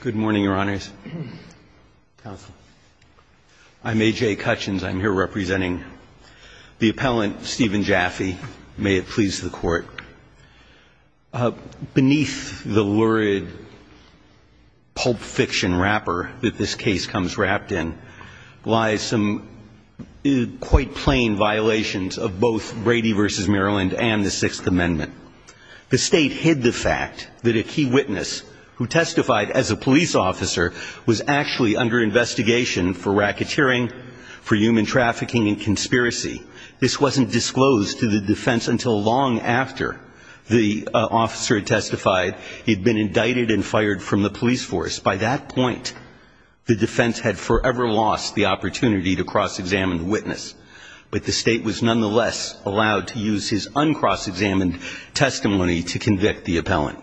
Good morning, Your Honors. I'm A.J. Cutchins. I'm here representing the appellant Steven Jaffe. May it please the Court. Beneath the lurid pulp fiction wrapper that this case comes wrapped in lies some quite plain violations of both Brady v. Maryland and the Sixth Amendment. The State hid the fact that a key witness who testified as a police officer was actually under investigation for racketeering, for human trafficking and conspiracy. This wasn't disclosed to the defense until long after the officer had testified he'd been indicted and fired from the police force. By that point, the defense had forever lost the opportunity to cross-examine the witness. But the State was nonetheless allowed to use his uncross-examined testimony to convict the appellant.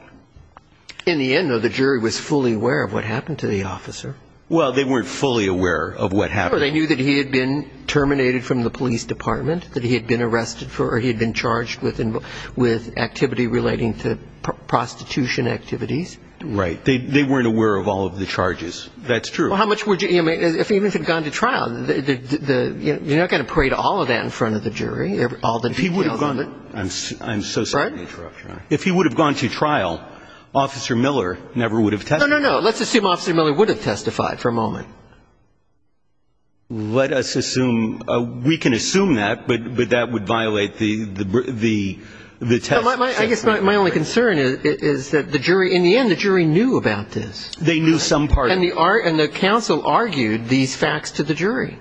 In the end, though, the jury was fully aware of what happened to the officer. Well, they weren't fully aware of what happened. No, they knew that he had been terminated from the police department, that he had been arrested for or he had been charged with activity relating to prostitution activities. Right. They weren't aware of all of the charges. That's true. Well, how much would you – even if he had gone to trial, you're not going to parade all of that in front of the jury, all the details of it. If he would have gone – I'm so sorry to interrupt, Your Honor. Pardon? If he would have gone to trial, Officer Miller never would have testified. No, no, no. Let's assume Officer Miller would have testified for a moment. Let us assume – we can assume that, but that would violate the test system. Well, I guess my only concern is that the jury – in the end, the jury knew about this. They knew some part of it. And the counsel argued these facts to the jury.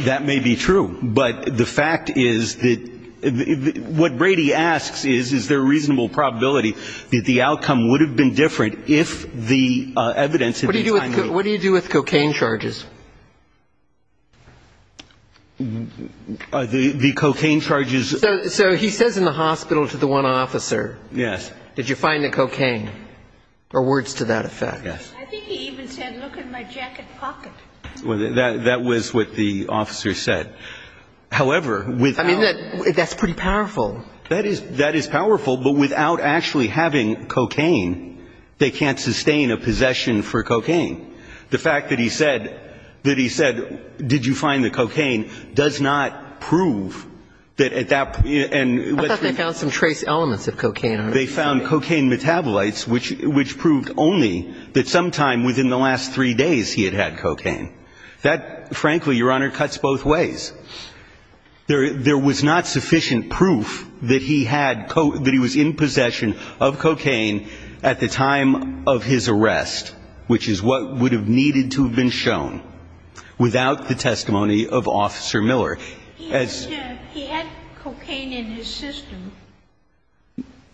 That may be true, but the fact is that – what Brady asks is, is there a reasonable probability that the outcome would have been different if the evidence had been timely? What do you do with cocaine charges? The cocaine charges – So he says in the hospital to the one officer, did you find the cocaine? Or words to that effect. I think he even said, look in my jacket pocket. That was what the officer said. However, without – I mean, that's pretty powerful. That is powerful, but without actually having cocaine, they can't sustain a possession for cocaine. The fact that he said – that he said, did you find the cocaine, does not prove that at that – I thought they found some trace elements of cocaine. They found cocaine metabolites, which proved only that sometime within the last three days he had had cocaine. That, frankly, Your Honor, cuts both ways. There was not sufficient proof that he had – that he was in possession of cocaine at the time of his arrest, which is what would have needed to have been shown, without the testimony of Officer Miller. He had cocaine in his system.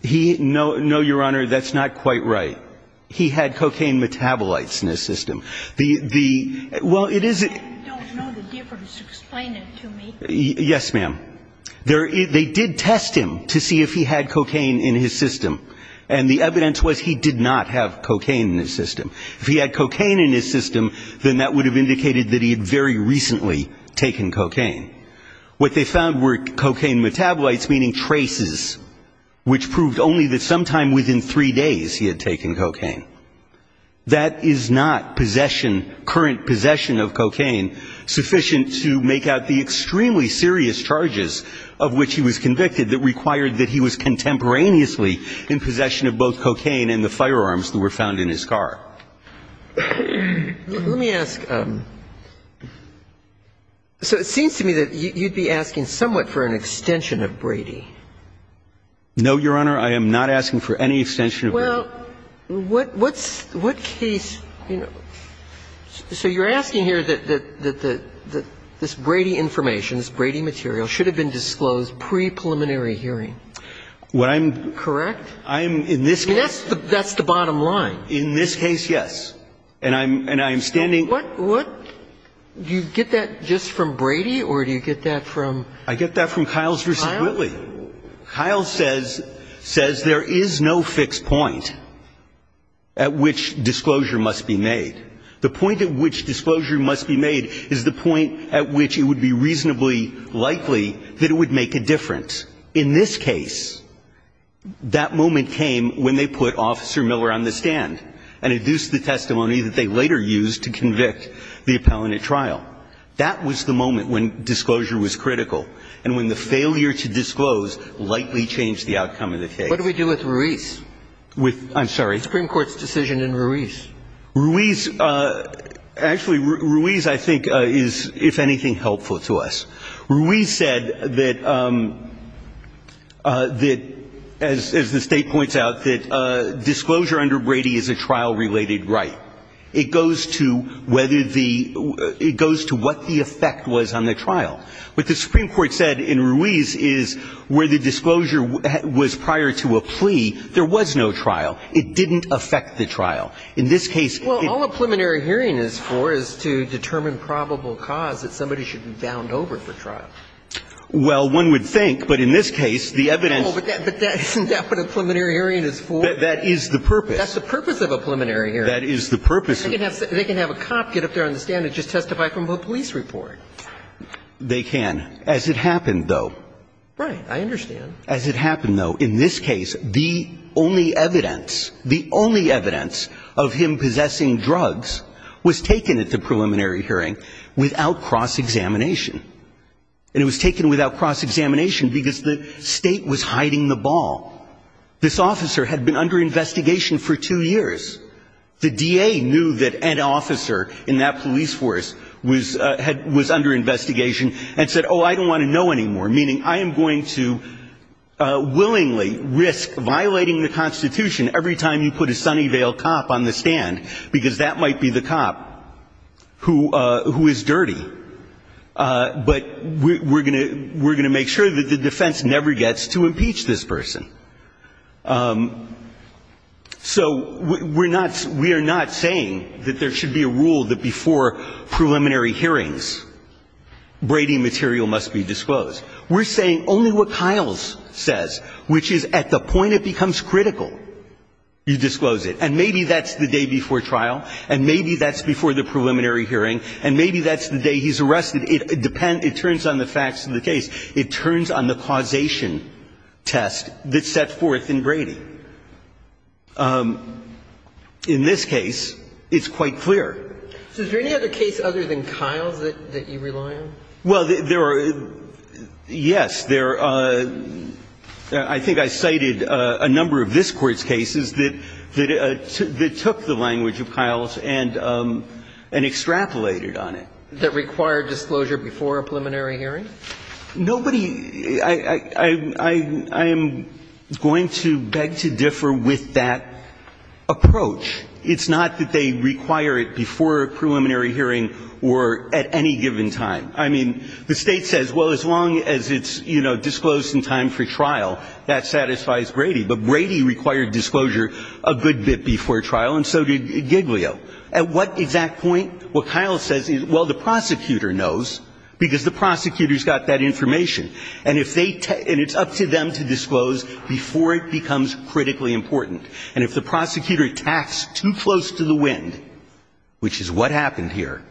He – no, Your Honor, that's not quite right. He had cocaine metabolites in his system. The – well, it is – I don't know the difference. Explain it to me. Yes, ma'am. They did test him to see if he had cocaine in his system, and the evidence was he did not have cocaine in his system. If he had cocaine in his system, then that would have indicated that he had very recently taken cocaine. What they found were cocaine metabolites, meaning traces, which proved only that sometime within three days he had taken cocaine. That is not possession – current possession of cocaine sufficient to make out the extremely serious charges of which he was convicted that required that he was contemporaneously in possession of both cocaine and the firearms that were found in his car. Let me ask – so it seems to me that you'd be asking somewhat for an extension of Brady. No, Your Honor. Well, what case – so you're asking here that this Brady information, this Brady material, should have been disclosed pre-preliminary hearing. What I'm – Correct? I'm – in this case – That's the bottom line. In this case, yes. And I'm standing – What – do you get that just from Brady, or do you get that from – I get that from Kiles v. Whitley. Kiles says – says there is no fixed point at which disclosure must be made. The point at which disclosure must be made is the point at which it would be reasonably likely that it would make a difference. In this case, that moment came when they put Officer Miller on the stand and induced the testimony that they later used to convict the appellant at trial. That was the moment when disclosure was critical and when the failure to disclose lightly changed the outcome of the case. What do we do with Ruiz? With – I'm sorry. The Supreme Court's decision in Ruiz. Ruiz – actually, Ruiz, I think, is, if anything, helpful to us. Ruiz said that – that, as the State points out, that disclosure under Brady is a trial-related right. It goes to whether the – it goes to what the effect was on the trial. What the Supreme Court said in Ruiz is where the disclosure was prior to a plea, there was no trial. It didn't affect the trial. In this case – Well, all a preliminary hearing is for is to determine probable cause that somebody should be bound over for trial. Well, one would think, but in this case, the evidence – Well, but that – isn't that what a preliminary hearing is for? That is the purpose. That's the purpose of a preliminary hearing. That is the purpose of – They can have a cop get up there on the stand and just testify from a police report. They can, as it happened, though. Right. I understand. As it happened, though, in this case, the only evidence – the only evidence of him possessing drugs was taken at the preliminary hearing without cross-examination. And it was taken without cross-examination because the State was hiding the ball. This officer had been under investigation for two years. The DA knew that an officer in that police force was under investigation and said, oh, I don't want to know anymore, meaning I am going to willingly risk violating the Constitution every time you put a Sunnyvale cop on the stand, because that might be the cop who is dirty. But we're going to make sure that the defense never gets to impeach this person. So we're not – we are not saying that there should be a rule that before preliminary hearings, Brady material must be disclosed. We're saying only what Kiles says, which is at the point it becomes critical, you disclose it. And maybe that's the day before trial, and maybe that's before the preliminary hearing, and maybe that's the day he's arrested. It depends – it turns on the facts of the case. It turns on the causation test that's set forth in Brady. In this case, it's quite clear. So is there any other case other than Kiles that you rely on? Well, there are – yes, there are. I think I cited a number of this Court's cases that took the language of Kiles and extrapolated on it. That required disclosure before a preliminary hearing? Nobody – I am going to beg to differ with that approach. It's not that they require it before a preliminary hearing or at any given time. I mean, the State says, well, as long as it's, you know, disclosed in time for trial, that satisfies Brady. But Brady required disclosure a good bit before trial, and so did Giglio. At what exact point? What Kiles says is, well, the prosecutor knows because the prosecutor's got that information. And if they – and it's up to them to disclose before it becomes critically important. And if the prosecutor attacks too close to the wind, which is what happened here,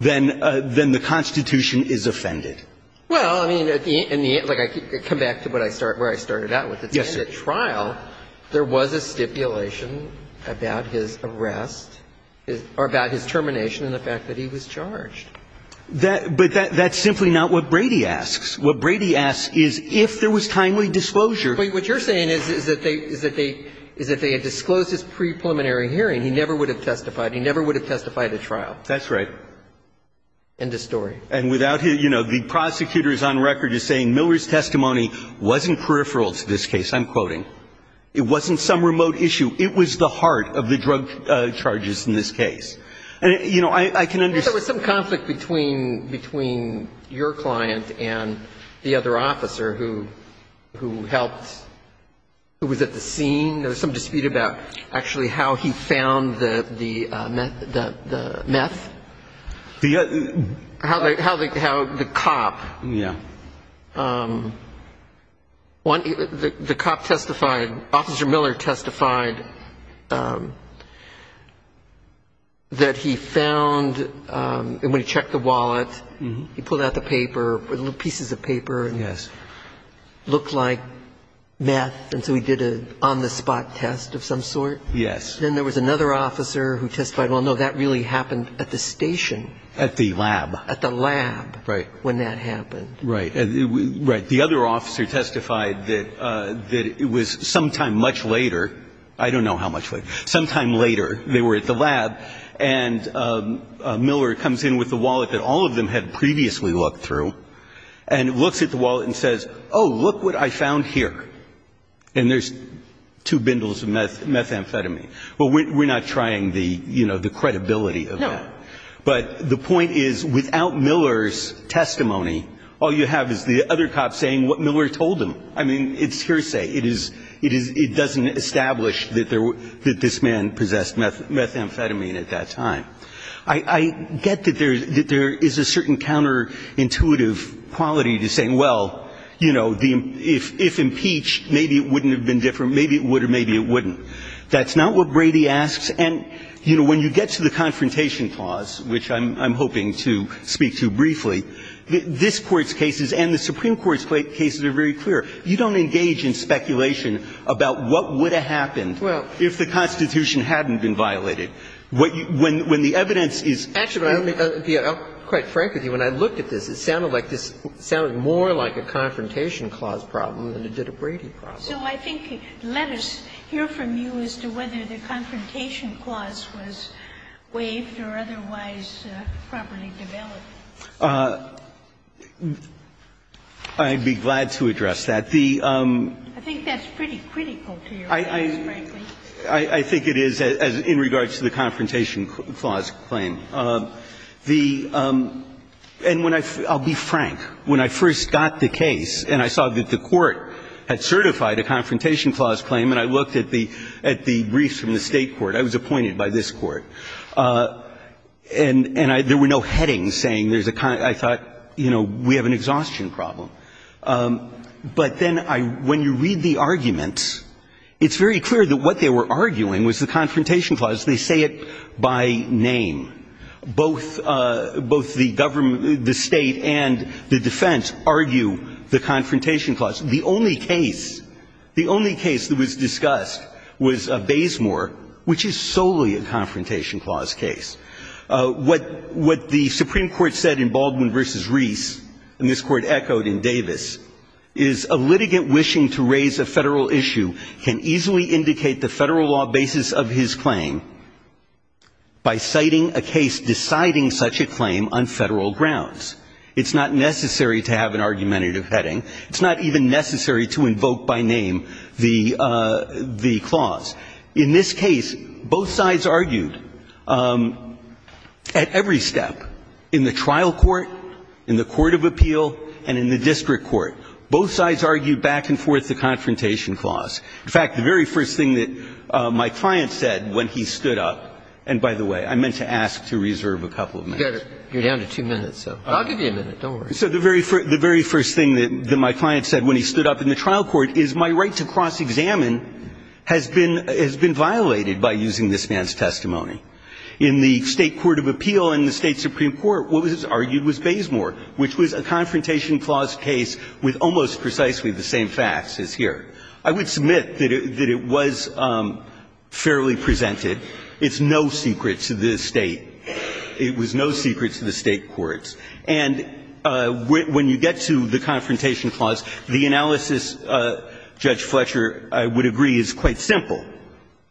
then the Constitution is offended. Well, I mean, in the – like, I come back to what I start – where I started out with it. Yes, sir. I mean, in the State trial, there was a stipulation about his arrest – or about his termination and the fact that he was charged. That – but that's simply not what Brady asks. What Brady asks is if there was timely disclosure. What you're saying is that they – is that they – is that they had disclosed this pre-preliminary hearing. He never would have testified. He never would have testified at trial. That's right. End of story. And without – you know, the prosecutor is on record as saying Miller's testimony wasn't peripheral to this case, I'm quoting. It wasn't some remote issue. It was the heart of the drug charges in this case. And, you know, I can understand – There was some conflict between – between your client and the other officer who – who helped – who was at the scene. There was some dispute about actually how he found the – the meth. The – How the – how the cop – Yeah. The cop testified – Officer Miller testified that he found – when he checked the wallet, he pulled out the paper, little pieces of paper. Yes. It looked like meth, and so he did an on-the-spot test of some sort. Yes. Then there was another officer who testified, well, no, that really happened at the station. At the lab. At the lab. Right. And he was there when that happened. Right. Right. The other officer testified that – that it was sometime much later – I don't know how much later. Sometime later, they were at the lab, and Miller comes in with the wallet that all of them had previously looked through, and looks at the wallet and says, oh, look what I found here. And there's two bindles of meth – methamphetamine. Well, we're not trying the, you know, the credibility of that. No. But the point is, without Miller's testimony, all you have is the other cop saying what Miller told him. I mean, it's hearsay. It is – it doesn't establish that there – that this man possessed methamphetamine at that time. I get that there is a certain counterintuitive quality to saying, well, you know, if impeached, maybe it wouldn't have been different. Maybe it would, or maybe it wouldn't. That's not what Brady asks. And, you know, when you get to the Confrontation Clause, which I'm hoping to speak to briefly, this Court's cases and the Supreme Court's cases are very clear. You don't engage in speculation about what would have happened if the Constitution hadn't been violated. When the evidence is – Actually, I'll be quite frank with you. When I looked at this, it sounded like this – it sounded more like a Confrontation Clause problem than it did a Brady problem. So I think let us hear from you as to whether the Confrontation Clause was waived or otherwise properly developed. I'd be glad to address that. The – I think that's pretty critical to your case, frankly. I think it is in regards to the Confrontation Clause claim. The – and when I – I'll be frank. When I first got the case and I saw that the Court had certified a Confrontation Clause claim and I looked at the – at the briefs from the State court, I was appointed by this court, and I – there were no headings saying there's a – I thought, you know, we have an exhaustion problem. But then I – when you read the arguments, it's very clear that what they were arguing was the Confrontation Clause. They say it by name. Both – both the government – the State and the defense argue the Confrontation Clause. The only case – the only case that was discussed was Baysmore, which is solely a Confrontation Clause case. What – what the Supreme Court said in Baldwin v. Reese, and this Court echoed in Davis, is a litigant wishing to raise a Federal issue can easily indicate the Federal law basis of his claim by citing a case deciding such a claim on Federal grounds. It's not necessary to have an argumentative heading. It's not even necessary to invoke by name the – the clause. In this case, both sides argued at every step in the trial court, in the court of appeal, and in the district court. Both sides argued back and forth the Confrontation Clause. In fact, the very first thing that my client said when he stood up – and by the way, I meant to ask to reserve a couple of minutes. You're down to two minutes, so. I'll give you a minute. Don't worry. So the very first – the very first thing that my client said when he stood up in the trial court is my right to cross-examine has been – has been violated by using this man's testimony. In the State court of appeal, in the State supreme court, what was argued was Baysmore, which was a Confrontation Clause case with almost precisely the same facts as here. I would submit that it was fairly presented. It's no secret to the State. It was no secret to the State courts. And when you get to the Confrontation Clause, the analysis, Judge Fletcher, I would agree is quite simple.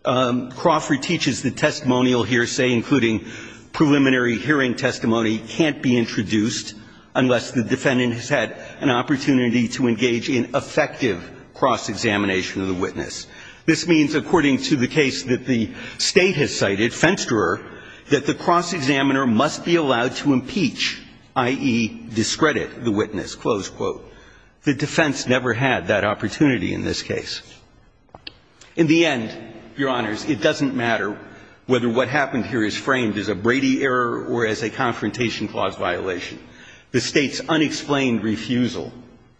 Crawford teaches that testimonial hearsay, including preliminary hearing testimony, can't be introduced unless the defendant has had an opportunity to engage in effective cross-examination of the witness. This means, according to the case that the State has cited, Fensterer, that the cross-examiner must be allowed to impeach, i.e., discredit the witness, close quote. The defense never had that opportunity in this case. In the end, Your Honors, it doesn't matter whether what happened here is framed as a Brady error or as a Confrontation Clause violation. The State's unexplained refusal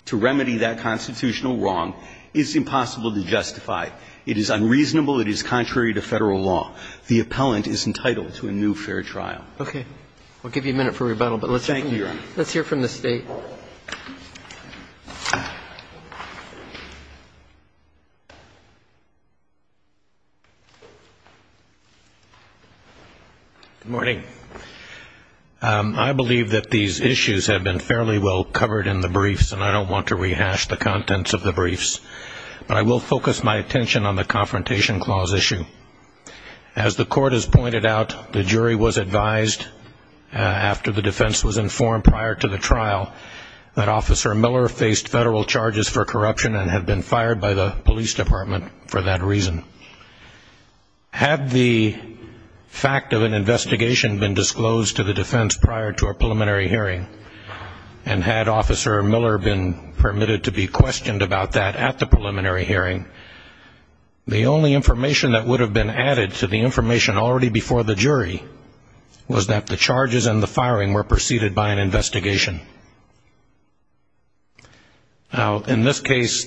to remedy that constitutional wrong is impossible to justify. It is unreasonable. It is contrary to Federal law. The appellant is entitled to a new fair trial. Roberts. Okay. I'll give you a minute for rebuttal, but let's hear from the State. Thank you, Your Honor. Good morning. I believe that these issues have been fairly well covered in the briefs, and I don't want to rehash the contents of the briefs, but I will focus my attention on the Confrontation Clause issue. As the Court has pointed out, the jury was advised after the defense was informed prior to the trial that Officer Miller faced Federal charges for corruption and had been fired by the police department for that reason. Had the fact of an investigation been disclosed to the defense prior to a preliminary hearing, and had Officer Miller been permitted to be questioned about that at the preliminary hearing, the only information that would have been added to the information already before the jury was that the charges and the firing were preceded by an investigation. Now, in this case.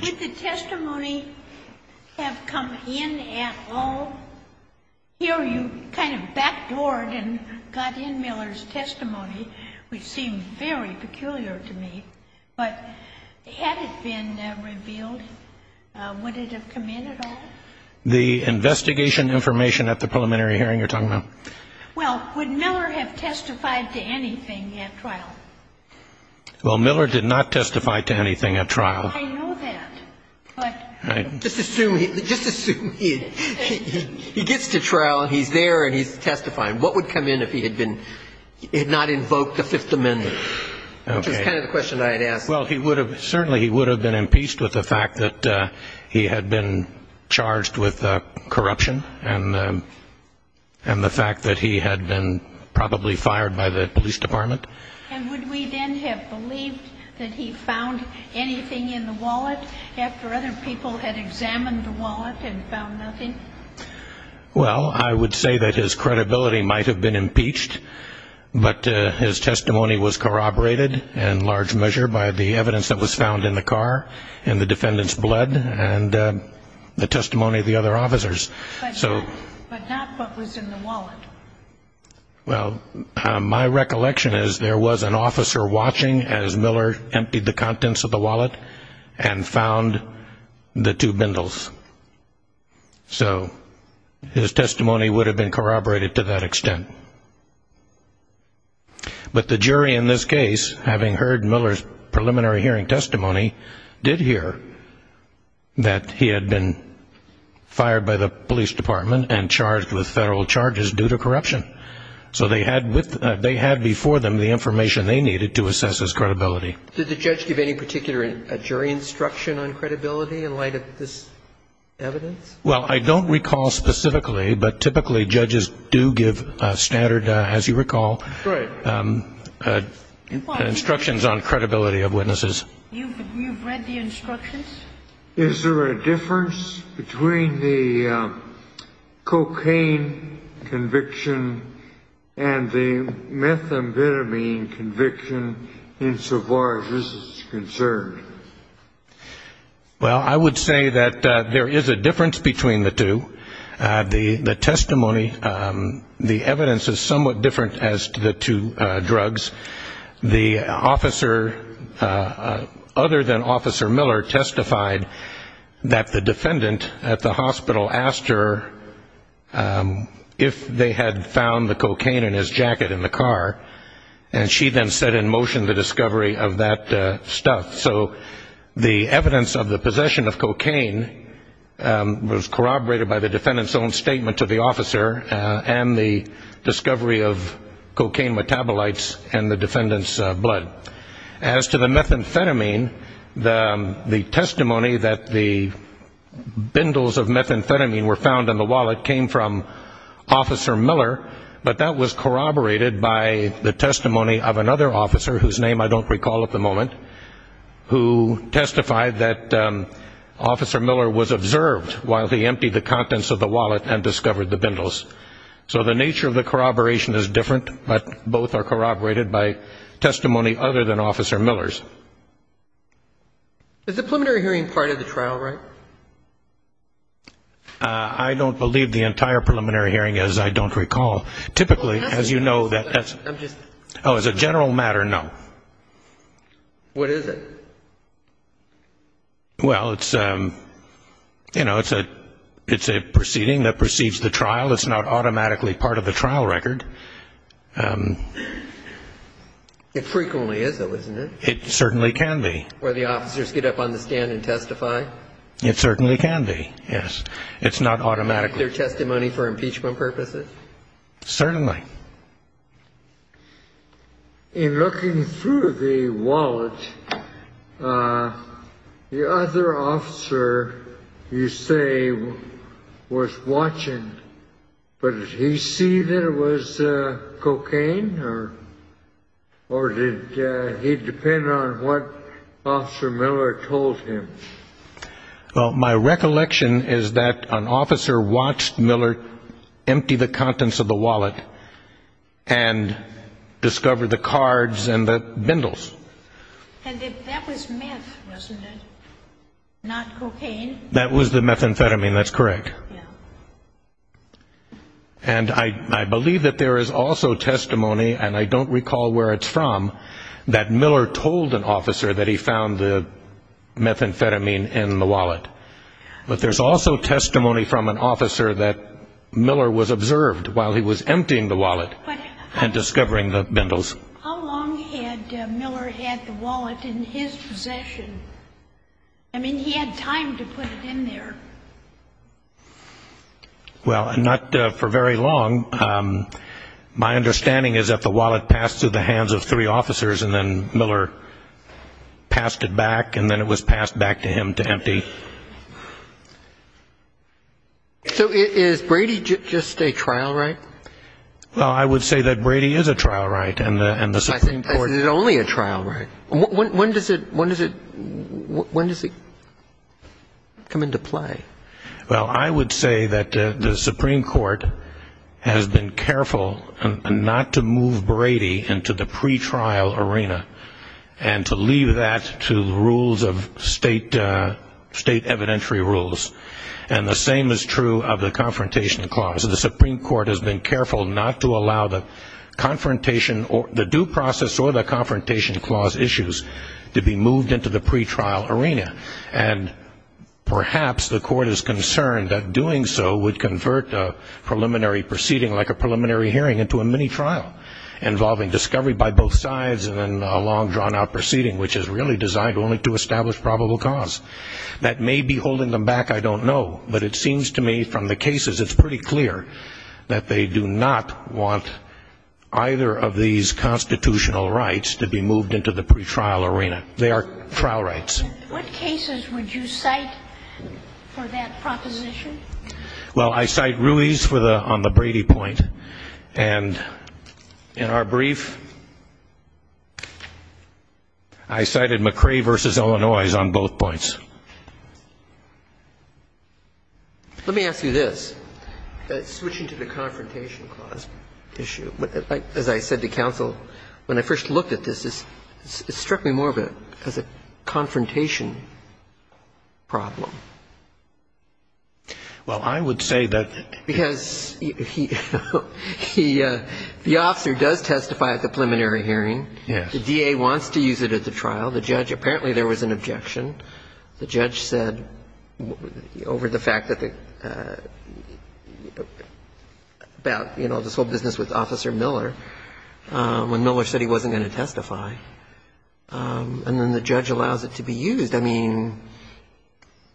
Did the testimony have come in at all? Here you kind of backdoored and got in Miller's testimony, which seemed very peculiar to me. But had it been revealed, would it have come in at all? The investigation information at the preliminary hearing you're talking about? Well, would Miller have testified to anything at trial? Well, Miller did not testify to anything at trial. I know that, but just assume he gets to trial and he's there and he's testifying. What would come in if he had not invoked the Fifth Amendment? Okay. Which is kind of the question I had asked. Well, certainly he would have been impeached with the fact that he had been charged with corruption and the fact that he had been probably fired by the police department. And would we then have believed that he found anything in the wallet after other people had examined the wallet and found nothing? Well, I would say that his credibility might have been impeached, but his testimony was corroborated in large measure by the evidence that was found in the car and the defendant's blood and the testimony of the other officers. But not what was in the wallet. Well, my recollection is there was an officer watching as Miller emptied the contents of the wallet and found the two bindles. So his testimony would have been corroborated to that extent. But the jury in this case, having heard Miller's preliminary hearing testimony, did hear that he had been fired by the police department and charged with federal charges due to corruption. So they had before them the information they needed to assess his credibility. Did the judge give any particular jury instruction on credibility in light of this evidence? Well, I don't recall specifically, but typically judges do give standard, as you recall, instructions on credibility of witnesses. You've read the instructions? Is there a difference between the cocaine conviction and the methamphetamine conviction insofar as this is concerned? Well, I would say that there is a difference between the two. The testimony, the evidence is somewhat different as to the two drugs. The officer, other than Officer Miller, testified that the defendant at the hospital asked her if they had found the cocaine in his jacket in the car, and she then set in motion the discovery of that stuff. So the evidence of the possession of cocaine was corroborated by the defendant's own statement to the officer and the discovery of cocaine metabolites in the defendant's blood. As to the methamphetamine, the testimony that the bindles of methamphetamine were found in the wallet came from Officer Miller, but that was corroborated by the testimony of another officer, whose name I don't recall at the moment, who testified that Officer Miller was observed while he emptied the contents of the wallet and discovered the bindles. So the nature of the corroboration is different, but both are corroborated by testimony other than Officer Miller's. Is the preliminary hearing part of the trial, right? I don't believe the entire preliminary hearing is, I don't recall. Typically, as you know, that's – oh, as a general matter, no. What is it? Well, it's, you know, it's a proceeding that precedes the trial. It's not automatically part of the trial record. It frequently is, though, isn't it? It certainly can be. Where the officers get up on the stand and testify? It certainly can be, yes. It's not automatically. Is it their testimony for impeachment purposes? Certainly. In looking through the wallet, the other officer you say was watching, but did he see that it was cocaine? Or did he depend on what Officer Miller told him? Well, my recollection is that an officer watched Miller empty the contents of the wallet and discovered the cards and the bindles. And that was meth, wasn't it? Not cocaine? That was the methamphetamine. That's correct. And I believe that there is also testimony, and I don't recall where it's from, that Miller told an officer that he found the methamphetamine in the wallet. But there's also testimony from an officer that Miller was observed while he was emptying the wallet and discovering the bindles. How long had Miller had the wallet in his possession? I mean, he had time to put it in there. Well, not for very long. My understanding is that the wallet passed through the hands of three officers, and then Miller passed it back, and then it was passed back to him to empty. So is Brady just a trial right? Well, I would say that Brady is a trial right. And the Supreme Court --. Is it only a trial right? When does it come into play? Well, I would say that the Supreme Court has been careful not to move Brady into the pretrial arena and to leave that to the rules of state evidentiary rules. And the same is true of the Confrontation Clause. The Supreme Court has been careful not to allow the confrontation or the due process or the Confrontation Clause issues to be moved into the pretrial arena. And perhaps the court is concerned that doing so would convert a preliminary proceeding like a preliminary hearing into a mini-trial involving discovery by both sides and then a long, drawn-out proceeding, which is really designed only to establish probable cause. That may be holding them back, I don't know. But it seems to me from the cases it's pretty clear that they do not want either of these constitutional rights to be moved into the pretrial arena. They are trial rights. What cases would you cite for that proposition? Well, I cite Ruiz on the Brady point. And in our brief, I cited McCrae v. Illinois on both points. Let me ask you this. Switching to the Confrontation Clause issue. As I said to counsel, when I first looked at this, it struck me more as a confrontation problem. Well, I would say that because he the officer does testify at the preliminary hearing. Yes. The DA wants to use it at the trial. The judge, apparently there was an objection. The judge said over the fact that about, you know, this whole business with Officer Miller, when Miller said he wasn't going to testify, and then the judge allows it to be used. I mean,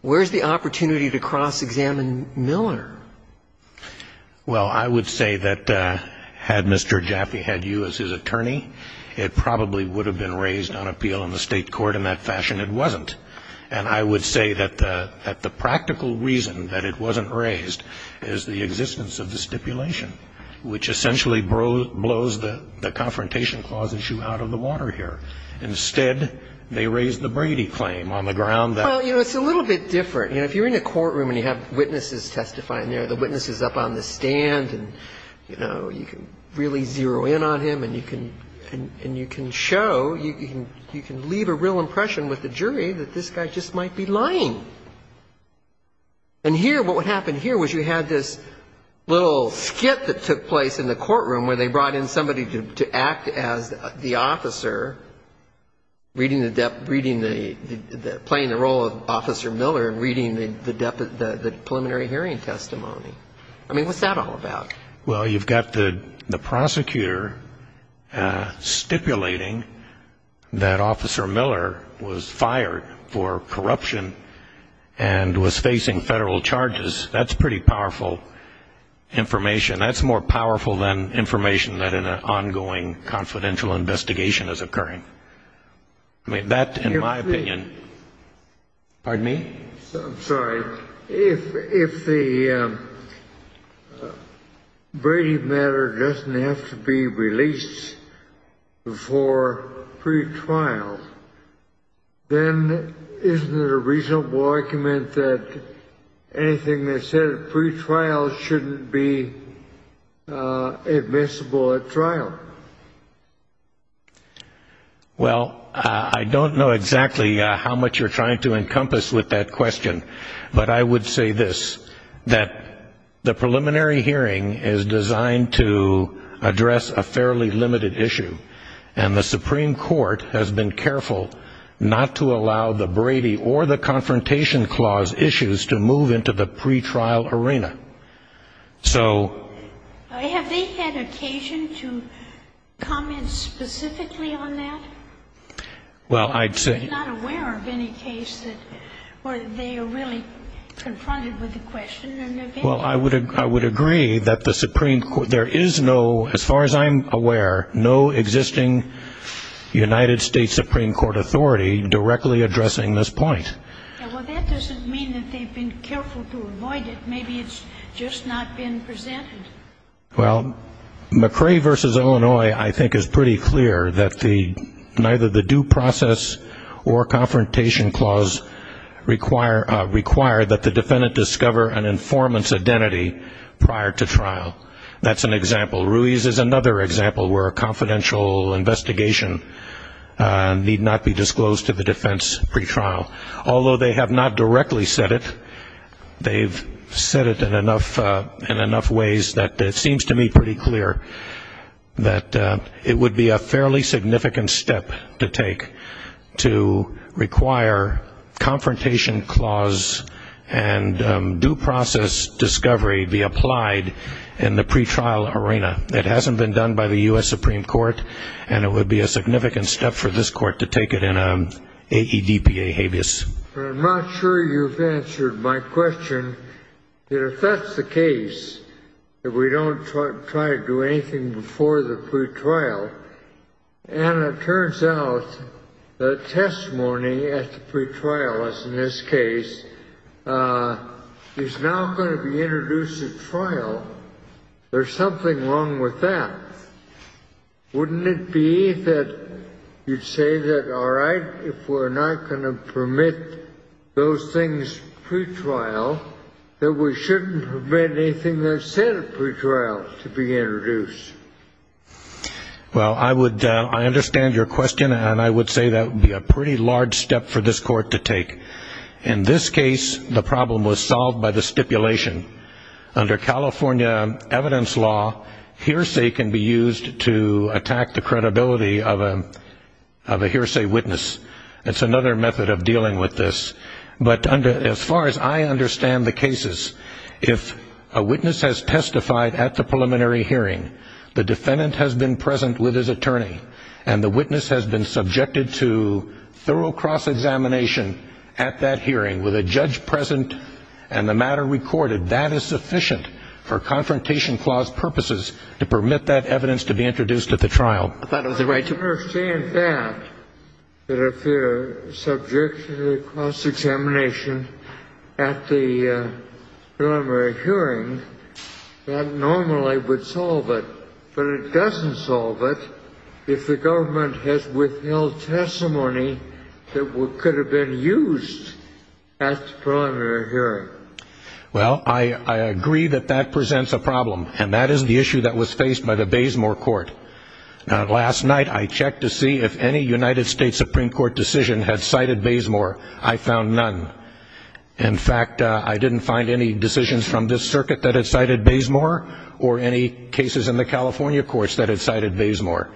where's the opportunity to cross-examine Miller? Well, I would say that had Mr. Jaffe had you as his attorney, it probably would have been raised on appeal in the state court. In that fashion, it wasn't. And I would say that the practical reason that it wasn't raised is the existence of the stipulation, which essentially blows the Confrontation Clause issue out of the water here. Instead, they raised the Brady claim on the ground that ---- Well, you know, it's a little bit different. You know, if you're in a courtroom and you have witnesses testifying there, the witness is up on the stand and, you know, you can really zero in on him and you can show, you can leave a real impression with the jury that this guy just might be lying. And here, what would happen here was you had this little skit that took place in the courtroom where they brought in somebody to act as the officer, playing the role of Officer Miller and reading the preliminary hearing testimony. I mean, what's that all about? Well, you've got the prosecutor stipulating that Officer Miller was fired for corruption and was facing federal charges. That's pretty powerful information. That's more powerful than information that in an ongoing confidential investigation is occurring. I mean, that, in my opinion ---- Pardon me? I'm sorry. If the Brady matter doesn't have to be released before pretrial, then isn't it a reasonable argument that anything that's said at pretrial shouldn't be admissible at trial? Well, I don't know exactly how much you're trying to encompass with that question, but I would say this, that the preliminary hearing is designed to address a fairly limited issue, and the Supreme Court has been careful not to allow the Brady or the Confrontation Clause issues to move into the pretrial arena. So ---- Have they had occasion to comment specifically on that? Well, I'd say ---- I'm not aware of any case where they are really confronted with the question. Well, I would agree that the Supreme Court ---- There is no, as far as I'm aware, no existing United States Supreme Court authority directly addressing this point. Well, that doesn't mean that they've been careful to avoid it. Maybe it's just not been presented. Well, McRae v. Illinois, I think, is pretty clear that neither the due process or Confrontation Clause require that the defendant discover an informant's identity prior to trial. That's an example. Ruiz is another example where a confidential investigation need not be disclosed to the defense pretrial. Although they have not directly said it, they've said it in enough ways that it seems to me pretty clear that it would be a fairly significant step to take to require Confrontation Clause and due process discovery be applied in the pretrial arena. It hasn't been done by the U.S. Supreme Court, and it would be a significant step for this Court to take it in an AEDPA habeas. I'm not sure you've answered my question. If that's the case, if we don't try to do anything before the pretrial, and it turns out that testimony at the pretrial, as in this case, is now going to be introduced at trial, there's something wrong with that. Wouldn't it be that you'd say that, all right, if we're not going to permit those things pretrial, that we shouldn't permit anything that's said at pretrial to be introduced? Well, I understand your question, and I would say that would be a pretty large step for this Court to take. In this case, the problem was solved by the stipulation. Under California evidence law, hearsay can be used to attack the credibility of a hearsay witness. It's another method of dealing with this. But as far as I understand the cases, if a witness has testified at the preliminary hearing, the defendant has been present with his attorney, and the witness has been subjected to thorough cross-examination at that hearing, with a judge present and the matter recorded. That is sufficient for Confrontation Clause purposes to permit that evidence to be introduced at the trial. I thought it was the right to... I understand that, that if they're subjected to cross-examination at the preliminary hearing, that normally would solve it, but it doesn't solve it if the government has withheld testimony that could have been used at the preliminary hearing. Well, I agree that that presents a problem, and that is the issue that was faced by the Baysmore Court. Now, last night I checked to see if any United States Supreme Court decision had cited Baysmore. I found none. In fact, I didn't find any decisions from this circuit that had cited Baysmore or any cases in the California courts that had cited Baysmore.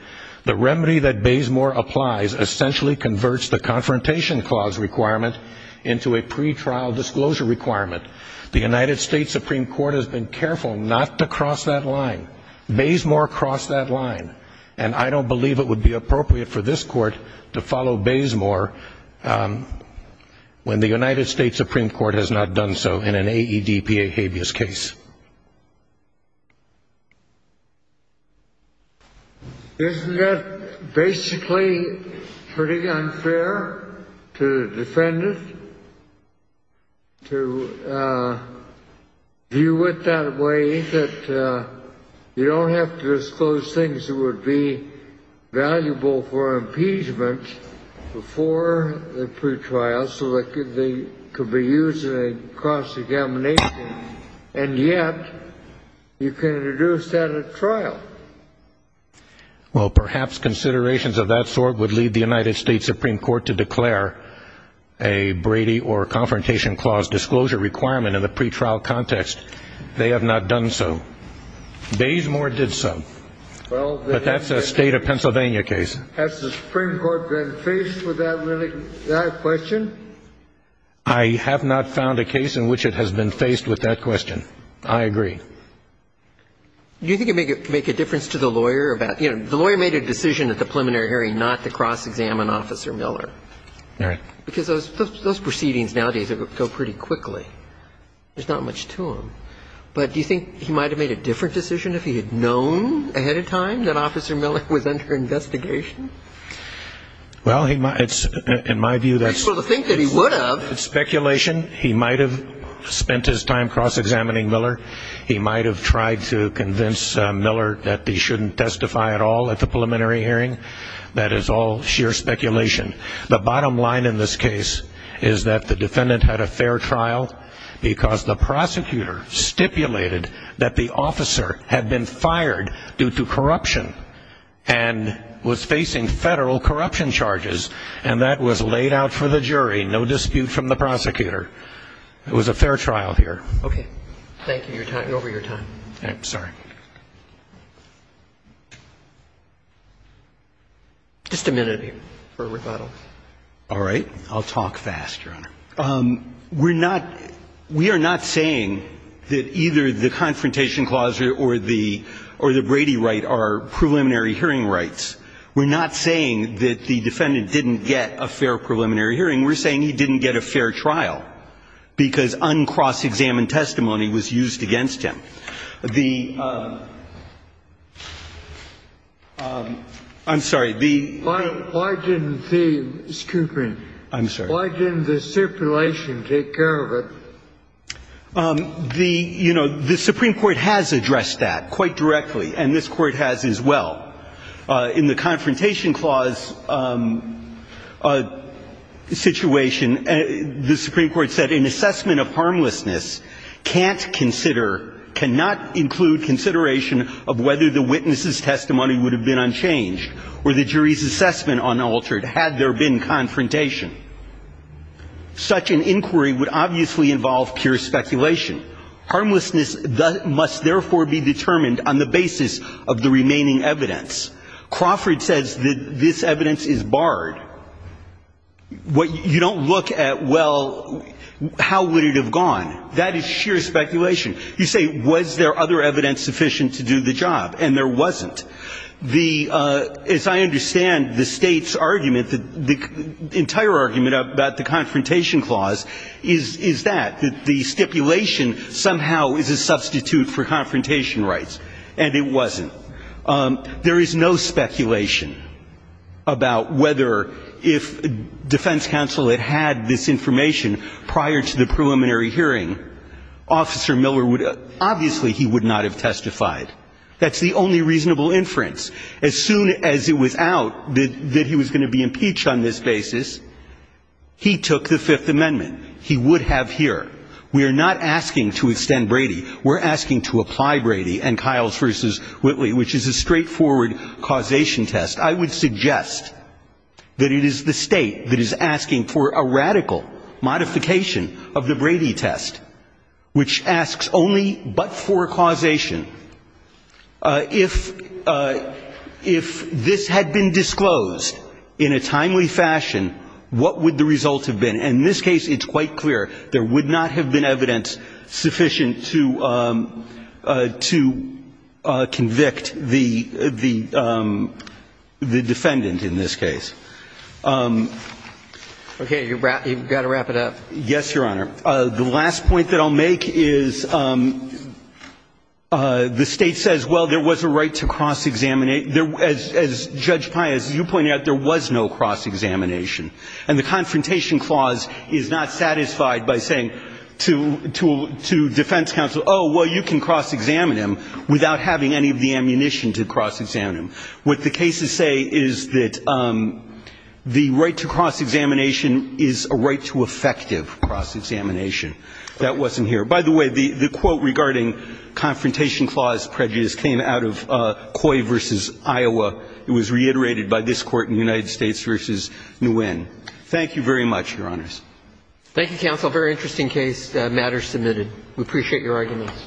The remedy that Baysmore applies essentially converts the Confrontation Clause requirement into a pretrial disclosure requirement. The United States Supreme Court has been careful not to cross that line. Baysmore crossed that line, and I don't believe it would be appropriate for this court to follow Baysmore when the United States Supreme Court has not done so in an AEDPA habeas case. Isn't that basically pretty unfair to defend it, to view it that way, that you don't have to disclose things that would be valuable for impeachment before the pretrial so that they could be used in a cross-examination, and yet you can introduce that at trial? Well, perhaps considerations of that sort would lead the United States Supreme Court to declare a Brady or Confrontation Clause disclosure requirement in the pretrial context. They have not done so. Baysmore did so, but that's a State of Pennsylvania case. Has the Supreme Court been faced with that question? I have not found a case in which it has been faced with that question. I agree. Do you think it would make a difference to the lawyer about the lawyer made a decision at the preliminary hearing not to cross-examine Officer Miller? Right. Because those proceedings nowadays go pretty quickly. There's not much to them. But do you think he might have made a different decision if he had known ahead of time that Officer Miller was under investigation? Well, in my view, that's speculation. He might have spent his time cross-examining Miller. He might have tried to convince Miller that he shouldn't testify at all at the preliminary hearing. That is all sheer speculation. The bottom line in this case is that the defendant had a fair trial because the prosecutor stipulated that the officer had been fired due to corruption and was facing Federal corruption charges, and that was laid out for the jury, no dispute from the prosecutor. It was a fair trial here. Okay. Thank you for your time. I'm sorry. Just a minute here for rebuttal. All right. I'll talk fast, Your Honor. We're not – we are not saying that either the confrontation clause or the Brady right are preliminary hearing rights. We're not saying that the defendant didn't get a fair preliminary hearing. We're saying he didn't get a fair trial because uncross-examined testimony was used against him. The – I'm sorry. Why didn't the – Mr. Cooper. I'm sorry. Why didn't the stipulation take care of it? The – you know, the Supreme Court has addressed that quite directly, and this Court has as well. In the confrontation clause situation, the Supreme Court said an assessment of harmlessness can't consider – cannot include consideration of whether the witness's testimony would have been unchanged or the jury's assessment unaltered had there been confrontation. Such an inquiry would obviously involve pure speculation. Harmlessness must therefore be determined on the basis of the remaining evidence. Crawford says that this evidence is barred. You don't look at, well, how would it have gone? That is sheer speculation. You say, was there other evidence sufficient to do the job? And there wasn't. The – as I understand the State's argument, the entire argument about the confrontation clause is that, that the stipulation somehow is a substitute for confrontation rights, and it wasn't. There is no speculation about whether if defense counsel had had this information prior to the preliminary hearing, Officer Miller would – obviously he would not have testified. That's the only reasonable inference. As soon as it was out that he was going to be impeached on this basis, he took the Fifth Amendment. He would have here. We are not asking to extend Brady. We're asking to apply Brady and Kiles v. Whitley, which is a straightforward causation test. I would suggest that it is the State that is asking for a radical modification of the Brady test, which asks only but for causation. If this had been disclosed in a timely fashion, what would the result have been? And in this case, it's quite clear. There would not have been evidence sufficient to convict the defendant in this case. Okay. You've got to wrap it up. Yes, Your Honor. The last point that I'll make is the State says, well, there was a right to cross-examine – as Judge Pai, as you pointed out, there was no cross-examination. And the Confrontation Clause is not satisfied by saying to defense counsel, oh, well, you can cross-examine him without having any of the ammunition to cross-examine him. What the cases say is that the right to cross-examination is a right to effective cross-examination. That wasn't here. By the way, the quote regarding Confrontation Clause prejudice came out of Coy v. Iowa. It was reiterated by this Court in the United States v. Nguyen. Thank you very much, Your Honors. Thank you, counsel. Very interesting case. The matter is submitted. We appreciate your arguments.